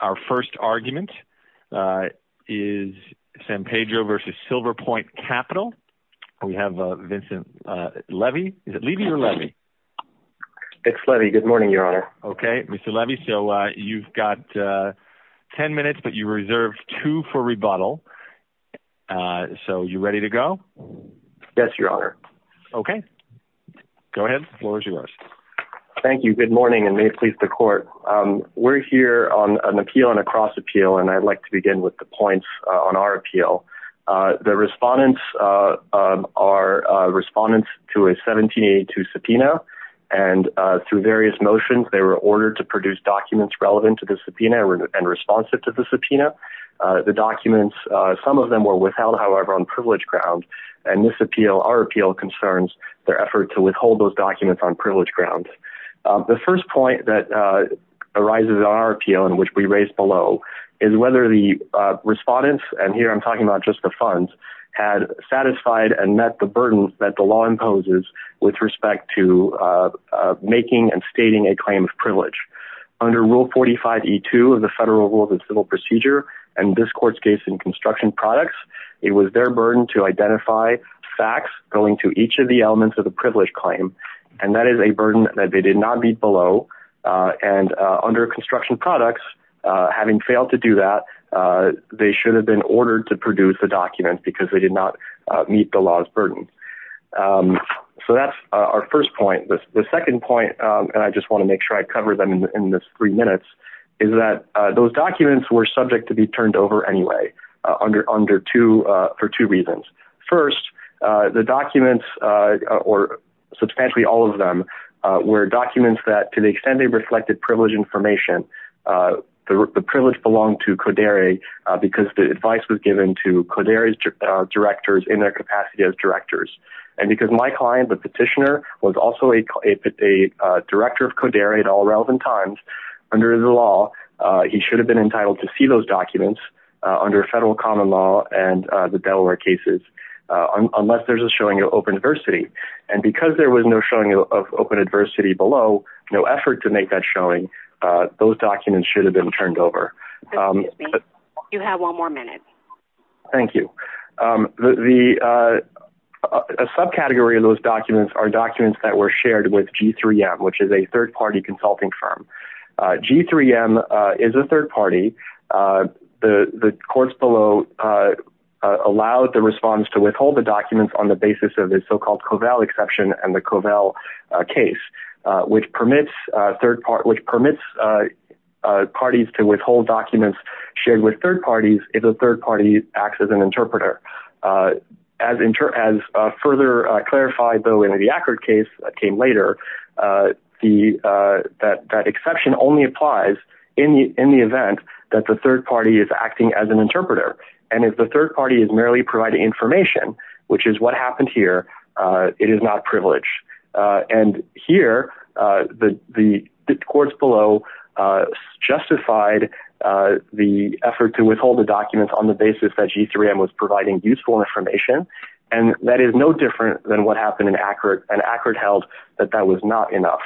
Our first argument is San Pedro versus Silver Point Capital. We have Vincent Levy. Is it Levy or Levy? It's Levy. Good morning, Your Honor. Okay. Mr. Levy, so you've got 10 minutes, but you reserved two for rebuttal. So you ready to go? Yes, Your Honor. Okay. Go ahead. The floor is yours. Thank you. Good morning, and may it please the Court. We're here on an appeal, on a cross-appeal, and I'd like to begin with the points on our appeal. The respondents are respondents to a 1782 subpoena, and through various motions they were ordered to produce documents relevant to the subpoena and responsive to the subpoena. The documents, some of them were withheld, however, on privilege ground, and this appeal, our appeal, concerns their effort to withhold those documents on privilege ground. The first point that arises on our appeal, and which we raised below, is whether the respondents, and here I'm talking about just the funds, had satisfied and met the burdens that the law imposes with respect to making and stating a claim of privilege. Under Rule 45E2 of the Federal Rules of Civil Procedure, and this Court's case in construction products, it was their burden to identify facts going to each of the elements of the subpoena that they did not meet below, and under construction products, having failed to do that, they should have been ordered to produce the documents because they did not meet the law's burden. So that's our first point. The second point, and I just want to make sure I cover them in this three minutes, is that those documents were subject to be turned over anyway, for two reasons. First, the documents, or substantially all of them, were documents that, to the extent they reflected privilege information, the privilege belonged to CODERI because the advice was given to CODERI's directors in their capacity as directors, and because my client, the petitioner, was also a director of CODERI at all relevant times under the law, he should have been entitled to see those documents under federal common law and the Delaware cases unless there's a showing of open adversity, and because there was no showing of open adversity below, no effort to make that showing, those documents should have been turned over. Excuse me. You have one more minute. Thank you. A subcategory of those documents are documents that were shared with G3M, which is a third-party consulting firm. G3M is a third-party. The courts below allowed the response to withhold the documents on the basis of the so-called Covell exception and the Covell case, which permits parties to withhold documents shared with third parties if the third party acts as an interpreter. As further clarified, though, in the Ackard case that came later, that exception only applies in the event that the third party is acting as an interpreter, and if the third party is merely providing information, which is what happened here, it is not privileged. And here, the courts below justified the effort to withhold the documents on the basis that they were providing useful information, and that is no different than what happened in Ackard, and Ackard held that that was not enough.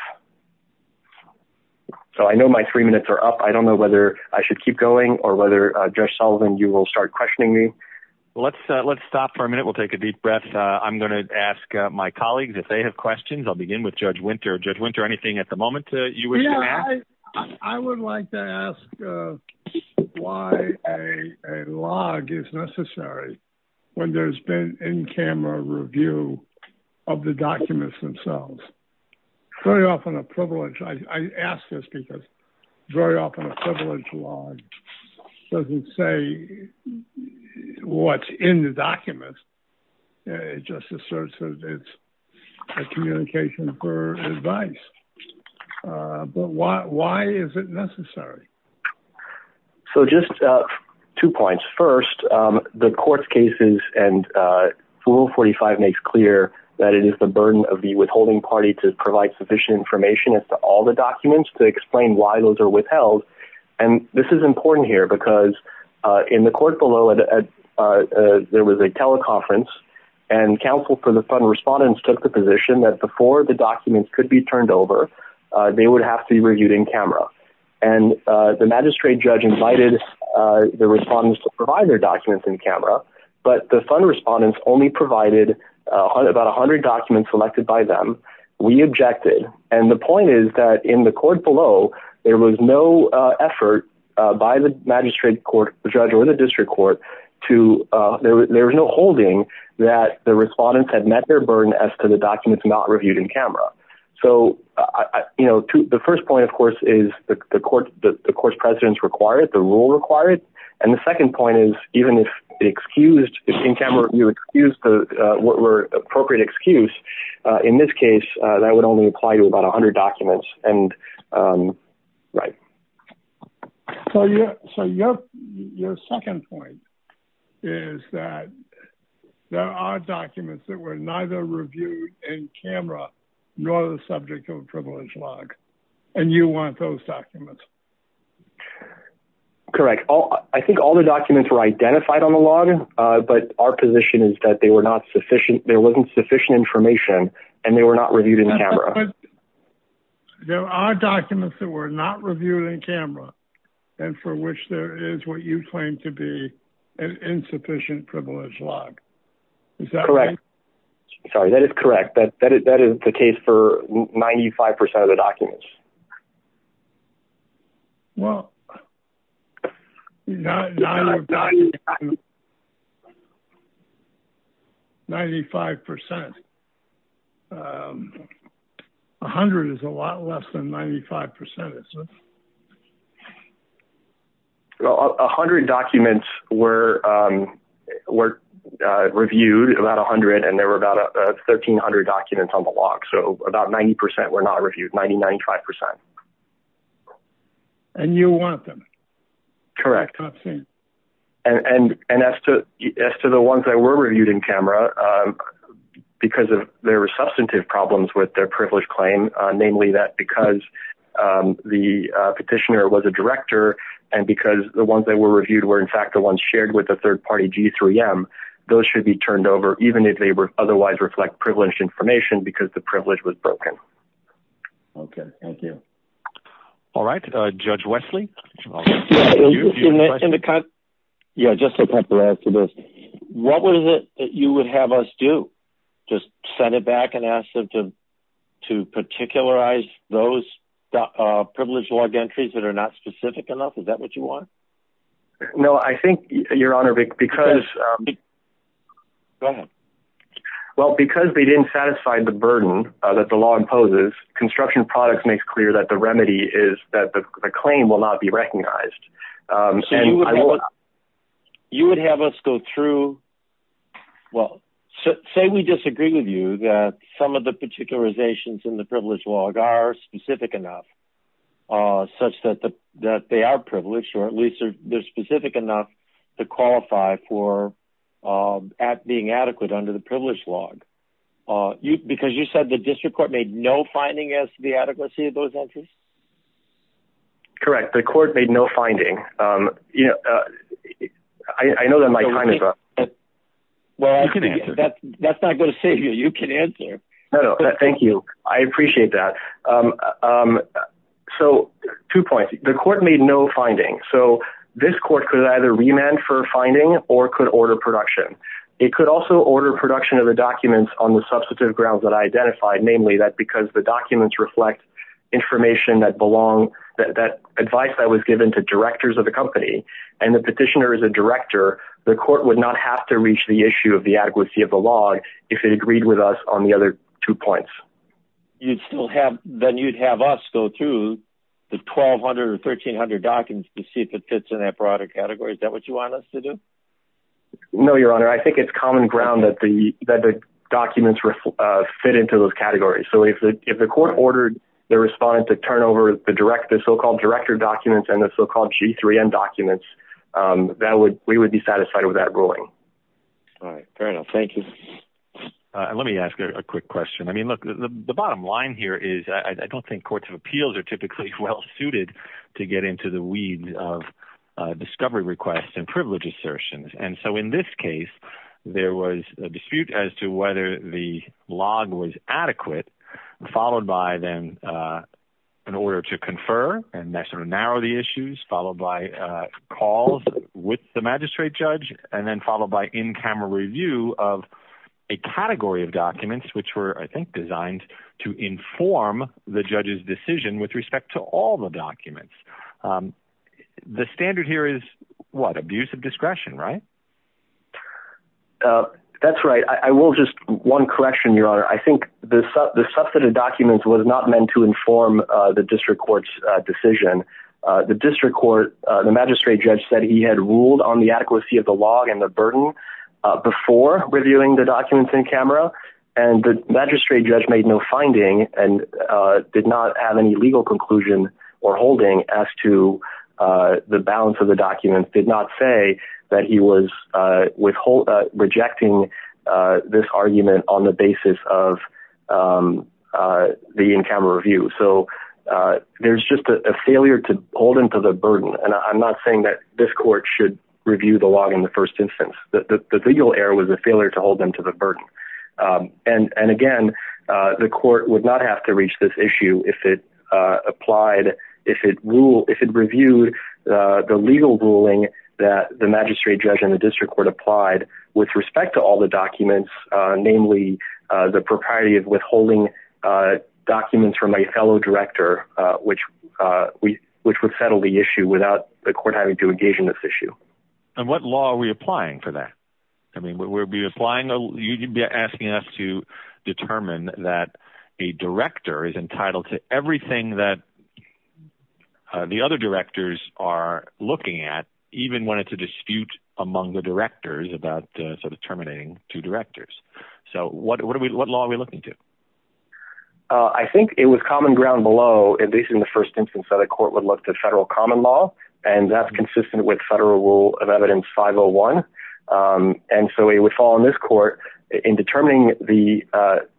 So I know my three minutes are up. I don't know whether I should keep going or whether, Judge Sullivan, you will start questioning me. Well, let's stop for a minute. We'll take a deep breath. I'm going to ask my colleagues, if they have questions, I'll begin with Judge Winter. Judge Winter, anything at the moment you wish to add? I would like to ask why a log is necessary when there's been in-camera review of the documents themselves. Very often a privilege, I ask this because very often a privilege log doesn't say what's in the documents. It just asserts that it's a communication for advice. But why is it necessary? So just two points. First, the court's cases and Rule 45 makes clear that it is the burden of the withholding party to provide sufficient information as to all the documents to explain why those are withheld. And this is important here because in the court below, there was a teleconference and counsel for the fund respondents took the position that before the documents could be turned over, they would have to be reviewed in-camera and the magistrate judge invited the respondents to provide their documents in-camera, but the fund respondents only provided about 100 documents selected by them. We objected. And the point is that in the court below, there was no effort by the magistrate court, the judge or the district court to, there was no holding that the respondents had met their burden as to the documents not reviewed in-camera. So, you know, the first point, of course, is the court's president's required, the rule required. And the second point is, even if it excused, if in-camera review excused what were appropriate excuse, in this case, that would only apply to about 100 documents. And right. So your second point is that there are documents that were neither reviewed in-camera, nor the subject of a privileged log, and you want those documents. Correct. I think all the documents were identified on the log, but our position is that they were not sufficient. There wasn't sufficient information and they were not reviewed in-camera. There are documents that were not reviewed in-camera and for which there is what you claim to be an insufficient privileged log. Correct. Sorry, that is correct. That is the case for 95 percent of the documents. Well, 95 percent, 100 is a lot less than 95 percent. So 100 documents were reviewed, about 100, and there were about 1,300 documents on the log. So about 90 percent were not reviewed, 90, 95 percent. And you want them. Correct. And as to the ones that were reviewed in-camera, because there were substantive problems with their privileged claim, namely that because the petitioner was a director and because the ones that were reviewed were, in fact, the ones shared with the third-party G3M, those should be turned over, even if they otherwise reflect privileged information, because the privilege was broken. OK, thank you. All right, Judge Wesley. Yeah, just to add to this, what was it that you would have us do? Just send it back and ask them to particularize those privileged log entries that are not specific enough? Is that what you want? No, I think, Your Honor, because. Go ahead. Well, because they didn't satisfy the burden that the law imposes, Construction Products makes clear that the remedy is that the claim will not be recognized. So you would have us go through. Well, say we disagree with you that some of the particularizations in the privileged log are specific enough such that they are privileged, or at least they're specific enough to qualify for being adequate under the privileged log. Because you said the district court made no finding as to the adequacy of those entries? Correct. The court made no finding. I know that my time is up. Well, that's not going to save you. You can answer. No, no. Thank you. I appreciate that. So two points. The court made no finding. So this court could either remand for finding or could order production. It could also order production of the documents on the substantive grounds that I identified, namely that because the documents reflect information that belongs, that advice that was given to directors of the company and the petitioner is a director, the court would not have to reach the issue of the adequacy of the log if it agreed with us on the other two points. You'd still have, then you'd have us go through the 1200 or 1300 documents to see if it fits in that broader category. No, Your Honor. I think it's common ground that the documents fit into those categories. So if the court ordered the respondent to turn over the so-called director documents and the so-called G3N documents, we would be satisfied with that ruling. All right. Fair enough. Thank you. Let me ask a quick question. I mean, look, the bottom line here is I don't think courts of appeals are typically well suited to get into the weeds of discovery requests and privilege assertions. And so in this case, there was a dispute as to whether the log was adequate, followed by then an order to confer and that sort of narrow the issues, followed by calls with the magistrate judge, and then followed by in-camera review of a category of documents, which were, I think, designed to inform the judge's decision with respect to all the documents. The standard here is what? Abuse of discretion, right? That's right. I will just one correction, Your Honor. I think the substantive documents was not meant to inform the district court's decision. The district court, the magistrate judge said he had ruled on the adequacy of the log and the burden before reviewing the documents in camera. And the magistrate judge made no finding and did not have any legal conclusion or holding as to the balance of the documents, did not say that he was rejecting this argument on the basis of the in-camera review. So there's just a failure to hold him to the burden. And I'm not saying that this court should review the log in the first instance. The legal error was a failure to hold them to the burden. And again, the court would not have to reach this issue if it applied, if it reviewed the legal ruling that the magistrate judge and the district court applied with respect to all the documents, namely the propriety of withholding documents from a fellow director, which would settle the issue without the court having to engage in this issue. And what law are we applying for that? I mean, you'd be asking us to determine that a director is entitled to everything that the other directors are looking at, even when it's a dispute among the directors about sort of terminating two directors. So what law are we looking to? I think it was common ground below, at least in the first instance that a court would look at federal common law, and that's consistent with federal rule of evidence 501. And so it would fall on this court in determining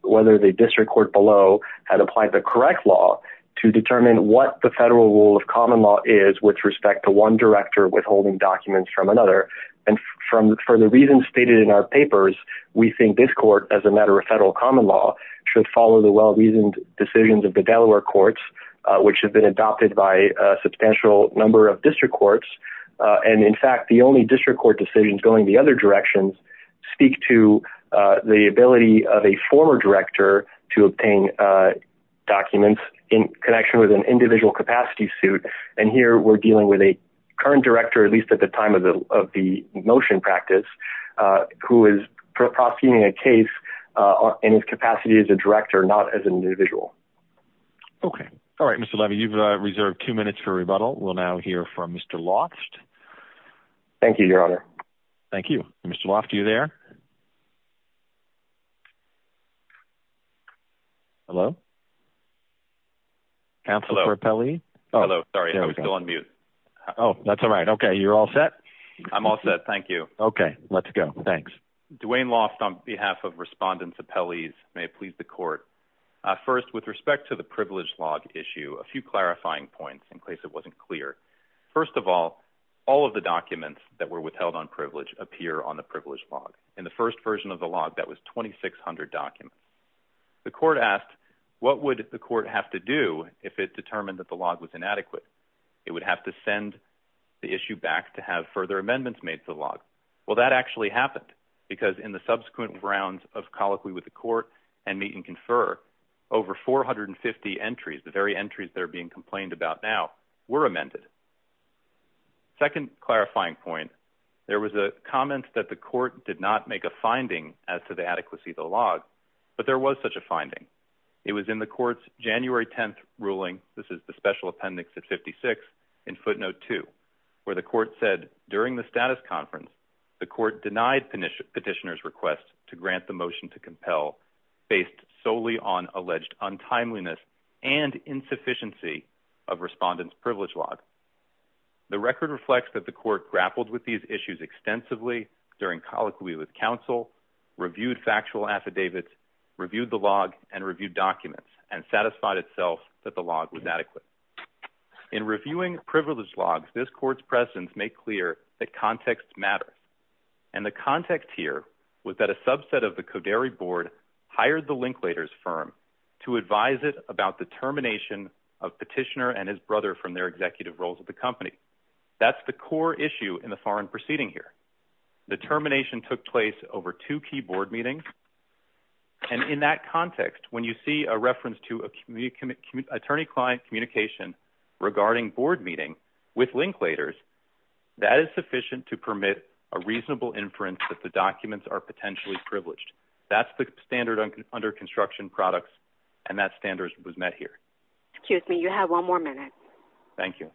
whether the district court below had applied the correct law to determine what the federal rule of common law is with respect to one director withholding documents from another. And for the reasons stated in our papers, we think this court, as a matter of federal common law, should follow the well-reasoned decisions of the Delaware courts, which have been adopted by a substantial number of district courts. And in fact, the only district court decisions going the other directions speak to the ability of a former director to obtain documents in connection with an individual capacity suit. And here we're dealing with a current director, at least at the time of the motion practice, who is prosecuting a case in his capacity as a director, not as an individual. Okay. All right, Mr. Levy, you've reserved two minutes for rebuttal. We'll now hear from Mr. Loft. Thank you, Your Honor. Thank you. Mr. Loft, are you there? Hello? Counsel for appellee. Hello. Sorry, I was still on mute. Oh, that's all right. Okay. You're all set. I'm all set. Thank you. Okay, let's go. Thanks. Duane Loft, on behalf of respondents, appellees, may it please the court. First, with respect to the privilege log issue, a few clarifying points in case it wasn't clear. First of all, all of the documents that were withheld on privilege appear on the privilege log. In the first version of the log, that was 2,600 documents. The court asked, what would the court have to do if it determined that the log was inadequate? It would have to send the issue back to have further amendments made to the log. Well, that actually happened, because in the subsequent rounds of colloquy with the court and meet and confer, over 450 entries, the very entries that are being complained about now, were amended. Second clarifying point. There was a comment that the court did not make a finding as to the adequacy of the log, but there was such a finding. It was in the court's January 10th ruling. This is the special appendix at 56 in footnote two, where the court said during the status conference, the court denied petitioner's request to grant the motion to compel based solely on alleged untimeliness and insufficiency of respondent's privilege log. The record reflects that the court grappled with these issues extensively during colloquy with counsel, reviewed factual affidavits, reviewed the log, and reviewed documents, and satisfied itself that the log was adequate. In reviewing privilege logs, this court's presence made clear that context matters. And the context here was that a subset of the Coderi board hired the Linklater's firm to advise it about the termination of petitioner and his brother from their executive roles at the company. That's the core issue in the foreign proceeding here. The termination took place over two key board meetings. And in that context, when you see a reference to attorney-client communication regarding board meeting with Linklater's, that is sufficient to permit a reasonable inference that the documents are potentially privileged. That's the standard under construction products. And that standard was met here. Excuse me. You have one more minute. Thank you.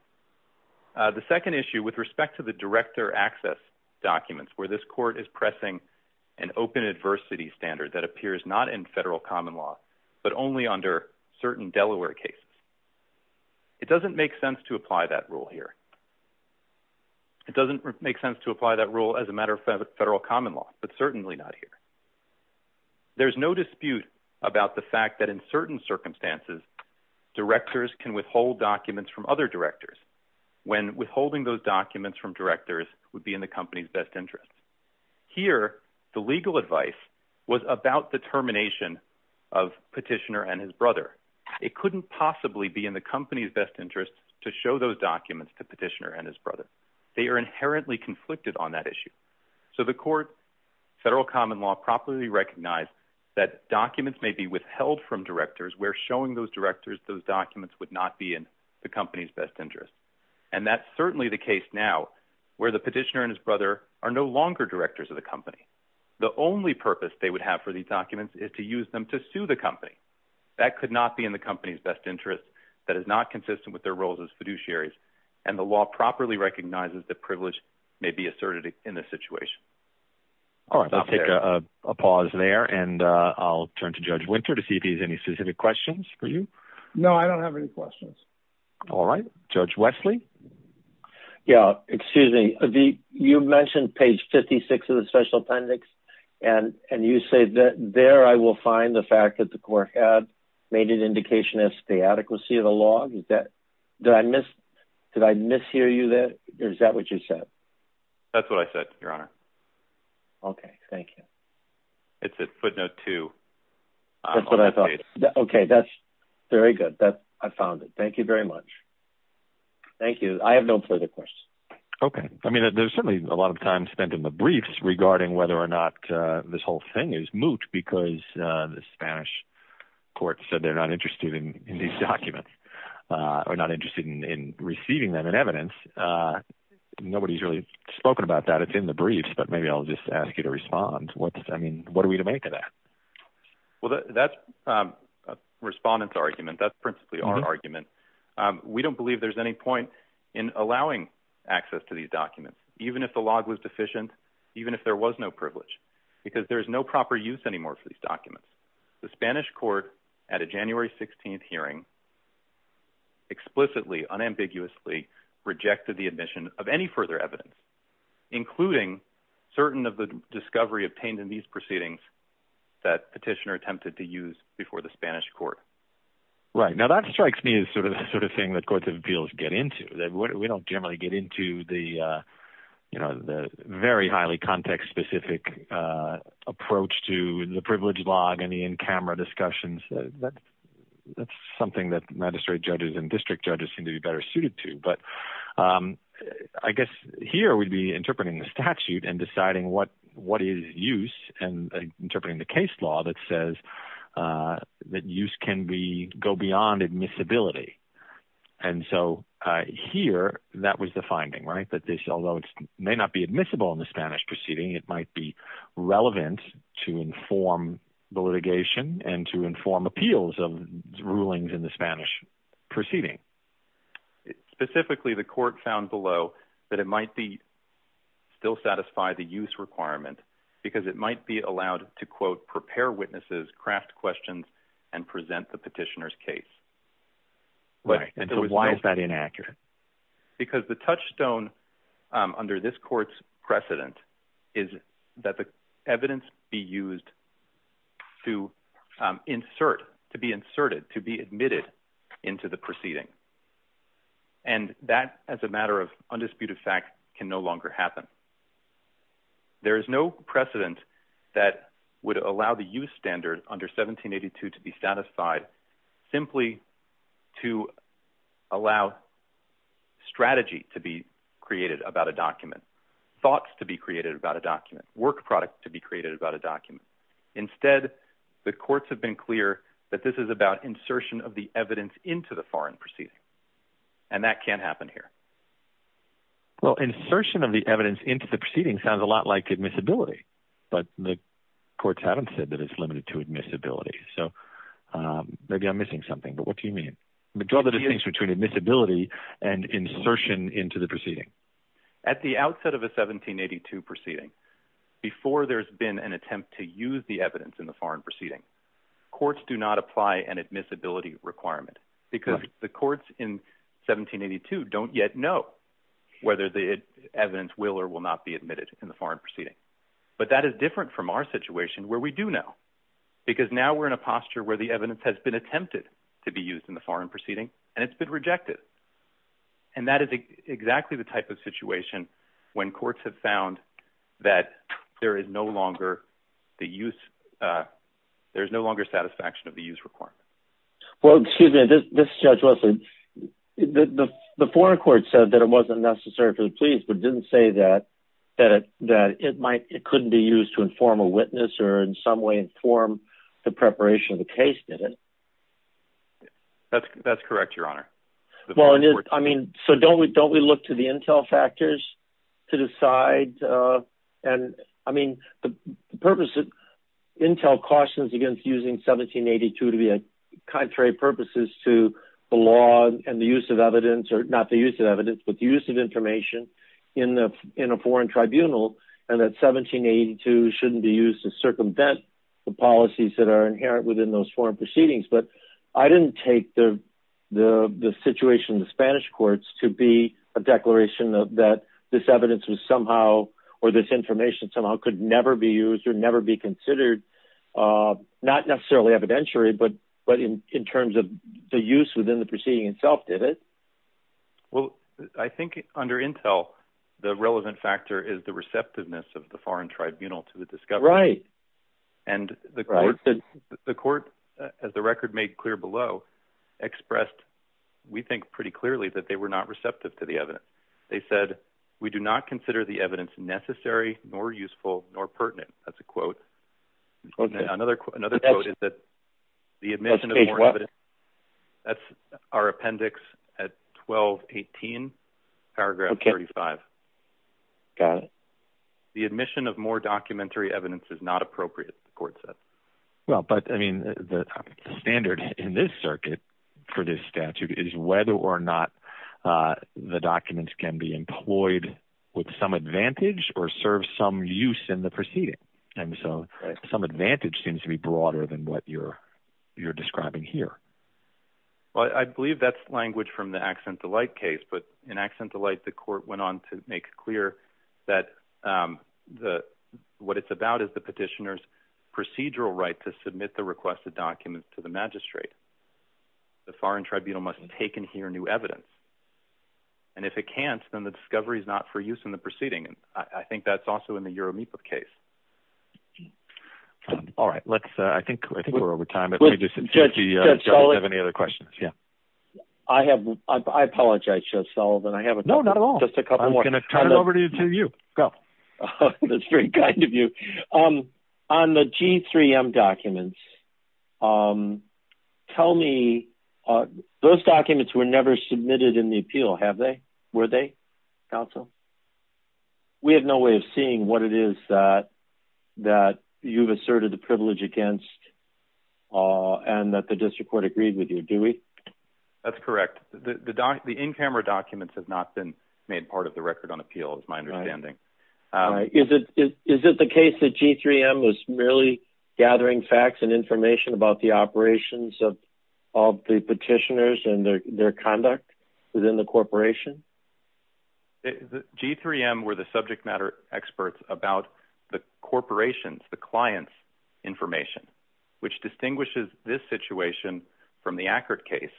The second issue with respect to the director access documents, where this court is pressing an open adversity standard that appears not in federal common law, but only under certain Delaware cases. It doesn't make sense to apply that rule here. It doesn't make sense to apply that rule as a matter of federal common law, but certainly not here. There's no dispute about the fact that in certain circumstances, directors can withhold documents from other directors, when withholding those documents from directors would be in the company's best interest. Here, the legal advice was about the termination of Petitioner and his brother. It couldn't possibly be in the company's best interest to show those documents to Petitioner and his brother. They are inherently conflicted on that issue. So the court, federal common law properly recognized that documents may be withheld from directors where showing those directors those documents would not be in the company's best interest. And that's certainly the case now, where the Petitioner and his brother are no longer directors of the company. The only purpose they would have for these documents is to use them to sue the company. That could not be in the company's best interest that is not consistent with their roles as fiduciaries. And the law properly recognizes that privilege may be asserted in this situation. All right, let's take a pause there. And I'll turn to Judge Winter to see if he has any specific questions for you. No, I don't have any questions. All right, Judge Wesley. Yeah, excuse me. You mentioned page 56 of the Special Appendix. And you say that there I will find the fact that the court had made an indication as to the adequacy of the law. Did I mishear you there? Is that what you said? That's what I said, Your Honor. Okay, thank you. It's at footnote two. Okay, that's very good. I found it. Thank you very much. Thank you. I have no further questions. Okay. I mean, there's certainly a lot of time spent in the briefs regarding whether or not this whole thing is moot because the Spanish court said they're not interested in these documents or not interested in receiving them in evidence. Nobody's really spoken about that. It's in the briefs. But maybe I'll just ask you to respond. Well, that's a respondent's argument. That's principally our argument. We don't believe there's any point in allowing access to these documents, even if the log was deficient, even if there was no privilege, because there's no proper use anymore for these documents. The Spanish court at a January 16th hearing explicitly unambiguously rejected the admission of any further evidence, including certain of the discovery obtained in these proceedings that petitioner attempted to use before the Spanish court. Now, that strikes me as sort of the sort of thing that courts of appeals get into. We don't generally get into the very highly context-specific approach to the privilege log and the in-camera discussions. That's something that magistrate judges and district judges seem to be better suited to. But I guess here we'd be interpreting the statute and deciding what is use and interpreting the case law that says that use can go beyond admissibility. And so here, that was the finding, right? That this, although it may not be admissible in the Spanish proceeding, it might be relevant to inform the litigation and to inform appeals of rulings in the Spanish proceeding. Specifically, the court found below that it might still satisfy the use requirement because it might be allowed to, quote, prepare witnesses, craft questions, and present the petitioner's case. But why is that inaccurate? Because the touchstone under this court's precedent is that the evidence be used to insert, to be inserted, to be admitted into the proceeding. And that, as a matter of undisputed fact, can no longer happen. There is no precedent that would allow the use standard under 1782 to be satisfied simply to allow strategy to be created about a document, thoughts to be created about a document, work product to be created about a document. Instead, the courts have been clear that this is about insertion of the evidence into the foreign proceeding. And that can't happen here. Well, insertion of the evidence into the proceeding sounds a lot like admissibility, but the courts haven't said that it's limited to admissibility. So maybe I'm missing something. But what do you mean? The difference between admissibility and insertion into the proceeding. At the outset of a 1782 proceeding, before there's been an attempt to use the evidence in the foreign proceeding, courts do not apply an admissibility requirement because the courts in 1782 don't yet know whether the evidence will or will not be admitted in the foreign proceeding. But that is different from our situation where we do know because now we're in a posture where the evidence has been attempted to be used in the foreign proceeding and it's been rejected. And that is exactly the type of situation when courts have found that there is no longer the use. There is no longer satisfaction of the use requirement. Well, excuse me, this judge, the foreign court said that it wasn't necessary for the police, but didn't say that it couldn't be used to inform a witness or in some way inform the preparation of the case, did it? That's correct, Your Honor. Well, I mean, so don't we look to the intel factors to decide? And I mean, the purpose of intel cautions against using 1782 to be a contrary purposes to the law and the use of evidence or not the use of evidence, but the use of information in a foreign tribunal. And that 1782 shouldn't be used to circumvent the policies that are inherent within those foreign proceedings. But I didn't take the situation in the Spanish courts to be a declaration that this evidence was somehow or this information somehow could never be used or never be considered, not necessarily evidentiary, but in terms of the use within the proceeding itself, did it? Well, I think under intel, the relevant factor is the receptiveness of the foreign tribunal to the discovery. Right. And the court, as the record made clear below, expressed, we think pretty clearly that they were not receptive to the evidence. They said we do not consider the evidence necessary, nor useful, nor pertinent. That's a quote. Another another quote is that the admission of what that's our appendix at 1218 paragraph thirty five. Got it. The admission of more documentary evidence is not appropriate, the court said. Well, but I mean, the standard in this circuit for this statute is whether or not the documents can be employed with some advantage or serve some use in the proceeding. And so some advantage seems to be broader than what you're you're describing here. Well, I believe that's language from the Accent to Light case. But in Accent to Light, the court went on to make clear that the what it's about is the petitioner's procedural right to submit the requested documents to the magistrate. The foreign tribunal must take and hear new evidence. And if it can't, then the discovery is not for use in the proceeding. And I think that's also in the Uromipa case. All right. Let's I think we're over time, but we just have any other questions. Yeah, I have. I apologize, Judge Sullivan. I haven't. No, not at all. Just a couple more. I'm going to turn it over to you. That's very kind of you. On the G3M documents, tell me those documents were never submitted in the appeal, have they? Were they, counsel? We have no way of seeing what it is that that you've asserted the privilege against and that the district court agreed with you, do we? That's correct. The in-camera documents have not been made part of the record on appeal, is my understanding. Is it the case that G3M was merely gathering facts and information about the operations of all the petitioners and their conduct within the corporation? G3M were the subject matter experts about the corporation's, the client's information, which distinguishes this situation from the Ackert case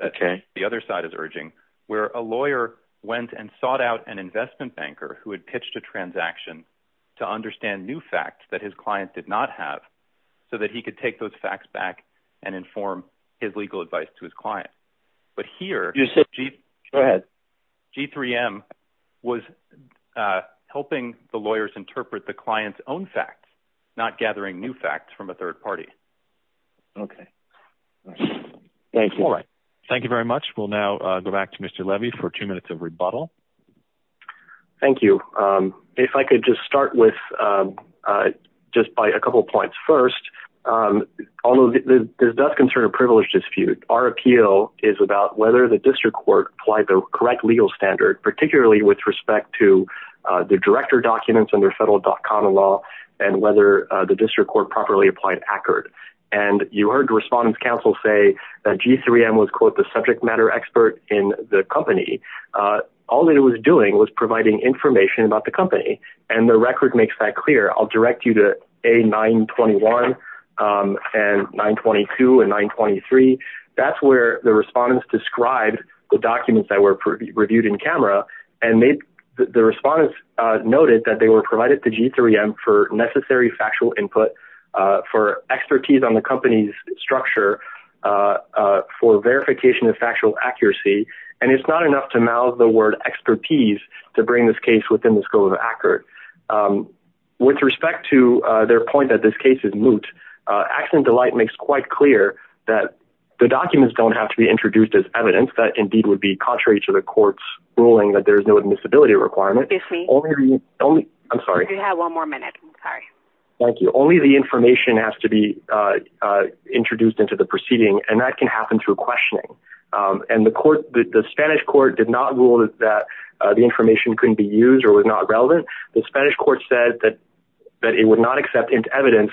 that the other side is urging, where a lawyer went and sought out an investment banker who had pitched a transaction to understand new facts that his client did not have so that he could take those facts back and inform his legal advice to his client. But here, G3M was helping the lawyers interpret the client's own facts, not gathering new facts from a third party. Okay. Thank you. All right. Thank you very much. We'll now go back to Mr. Levy for two minutes of rebuttal. Thank you. If I could just start with just by a couple of points. First, although this does concern a privilege dispute, our appeal is about whether the district court applied the correct legal standard, particularly with respect to the director documents under federal DOCANA law and whether the district court properly applied Ackert. And you heard the respondents counsel say that G3M was, quote, the subject matter expert in the company. All it was doing was providing information about the company. And the record makes that clear. I'll direct you to A921 and 922 and 923. That's where the respondents described the documents that were reviewed in camera. And the respondents noted that they were provided to G3M for necessary factual input, for expertise on the company's structure, for verification of factual accuracy. And it's not enough to mouth the word expertise to bring this case within the scope of Ackert. With respect to their point that this case is moot, AccidentDelight makes quite clear that the documents don't have to be introduced as evidence. That, indeed, would be contrary to the court's ruling that there's no admissibility requirement. Excuse me. I'm sorry. You have one more minute. I'm sorry. Thank you. Only the information has to be introduced into the proceeding. And that can happen through questioning. And the Spanish court did not rule that the information couldn't be used or was not relevant. The Spanish court said that it would not accept into evidence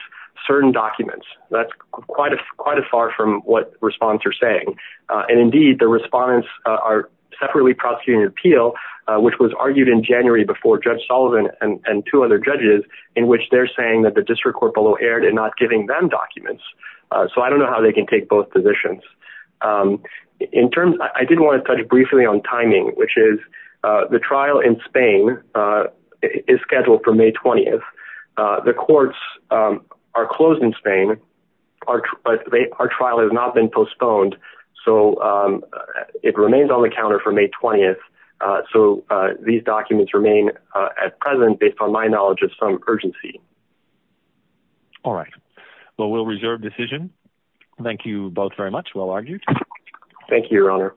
certain documents. That's quite as far from what respondents are saying. And, indeed, the respondents are separately prosecuting an appeal, which was argued in January before Judge Sullivan and two other judges, in which they're saying that the district court below erred in not giving them documents. So I don't know how they can take both positions. I did want to touch briefly on timing, which is the trial in Spain is scheduled for May 20th. The courts are closed in Spain. Our trial has not been postponed. So it remains on the counter for May 20th. So these documents remain at present based on my knowledge of some urgency. All right. Well, we'll reserve decision. Thank you both very much. Well argued. Thank you, Your Honor.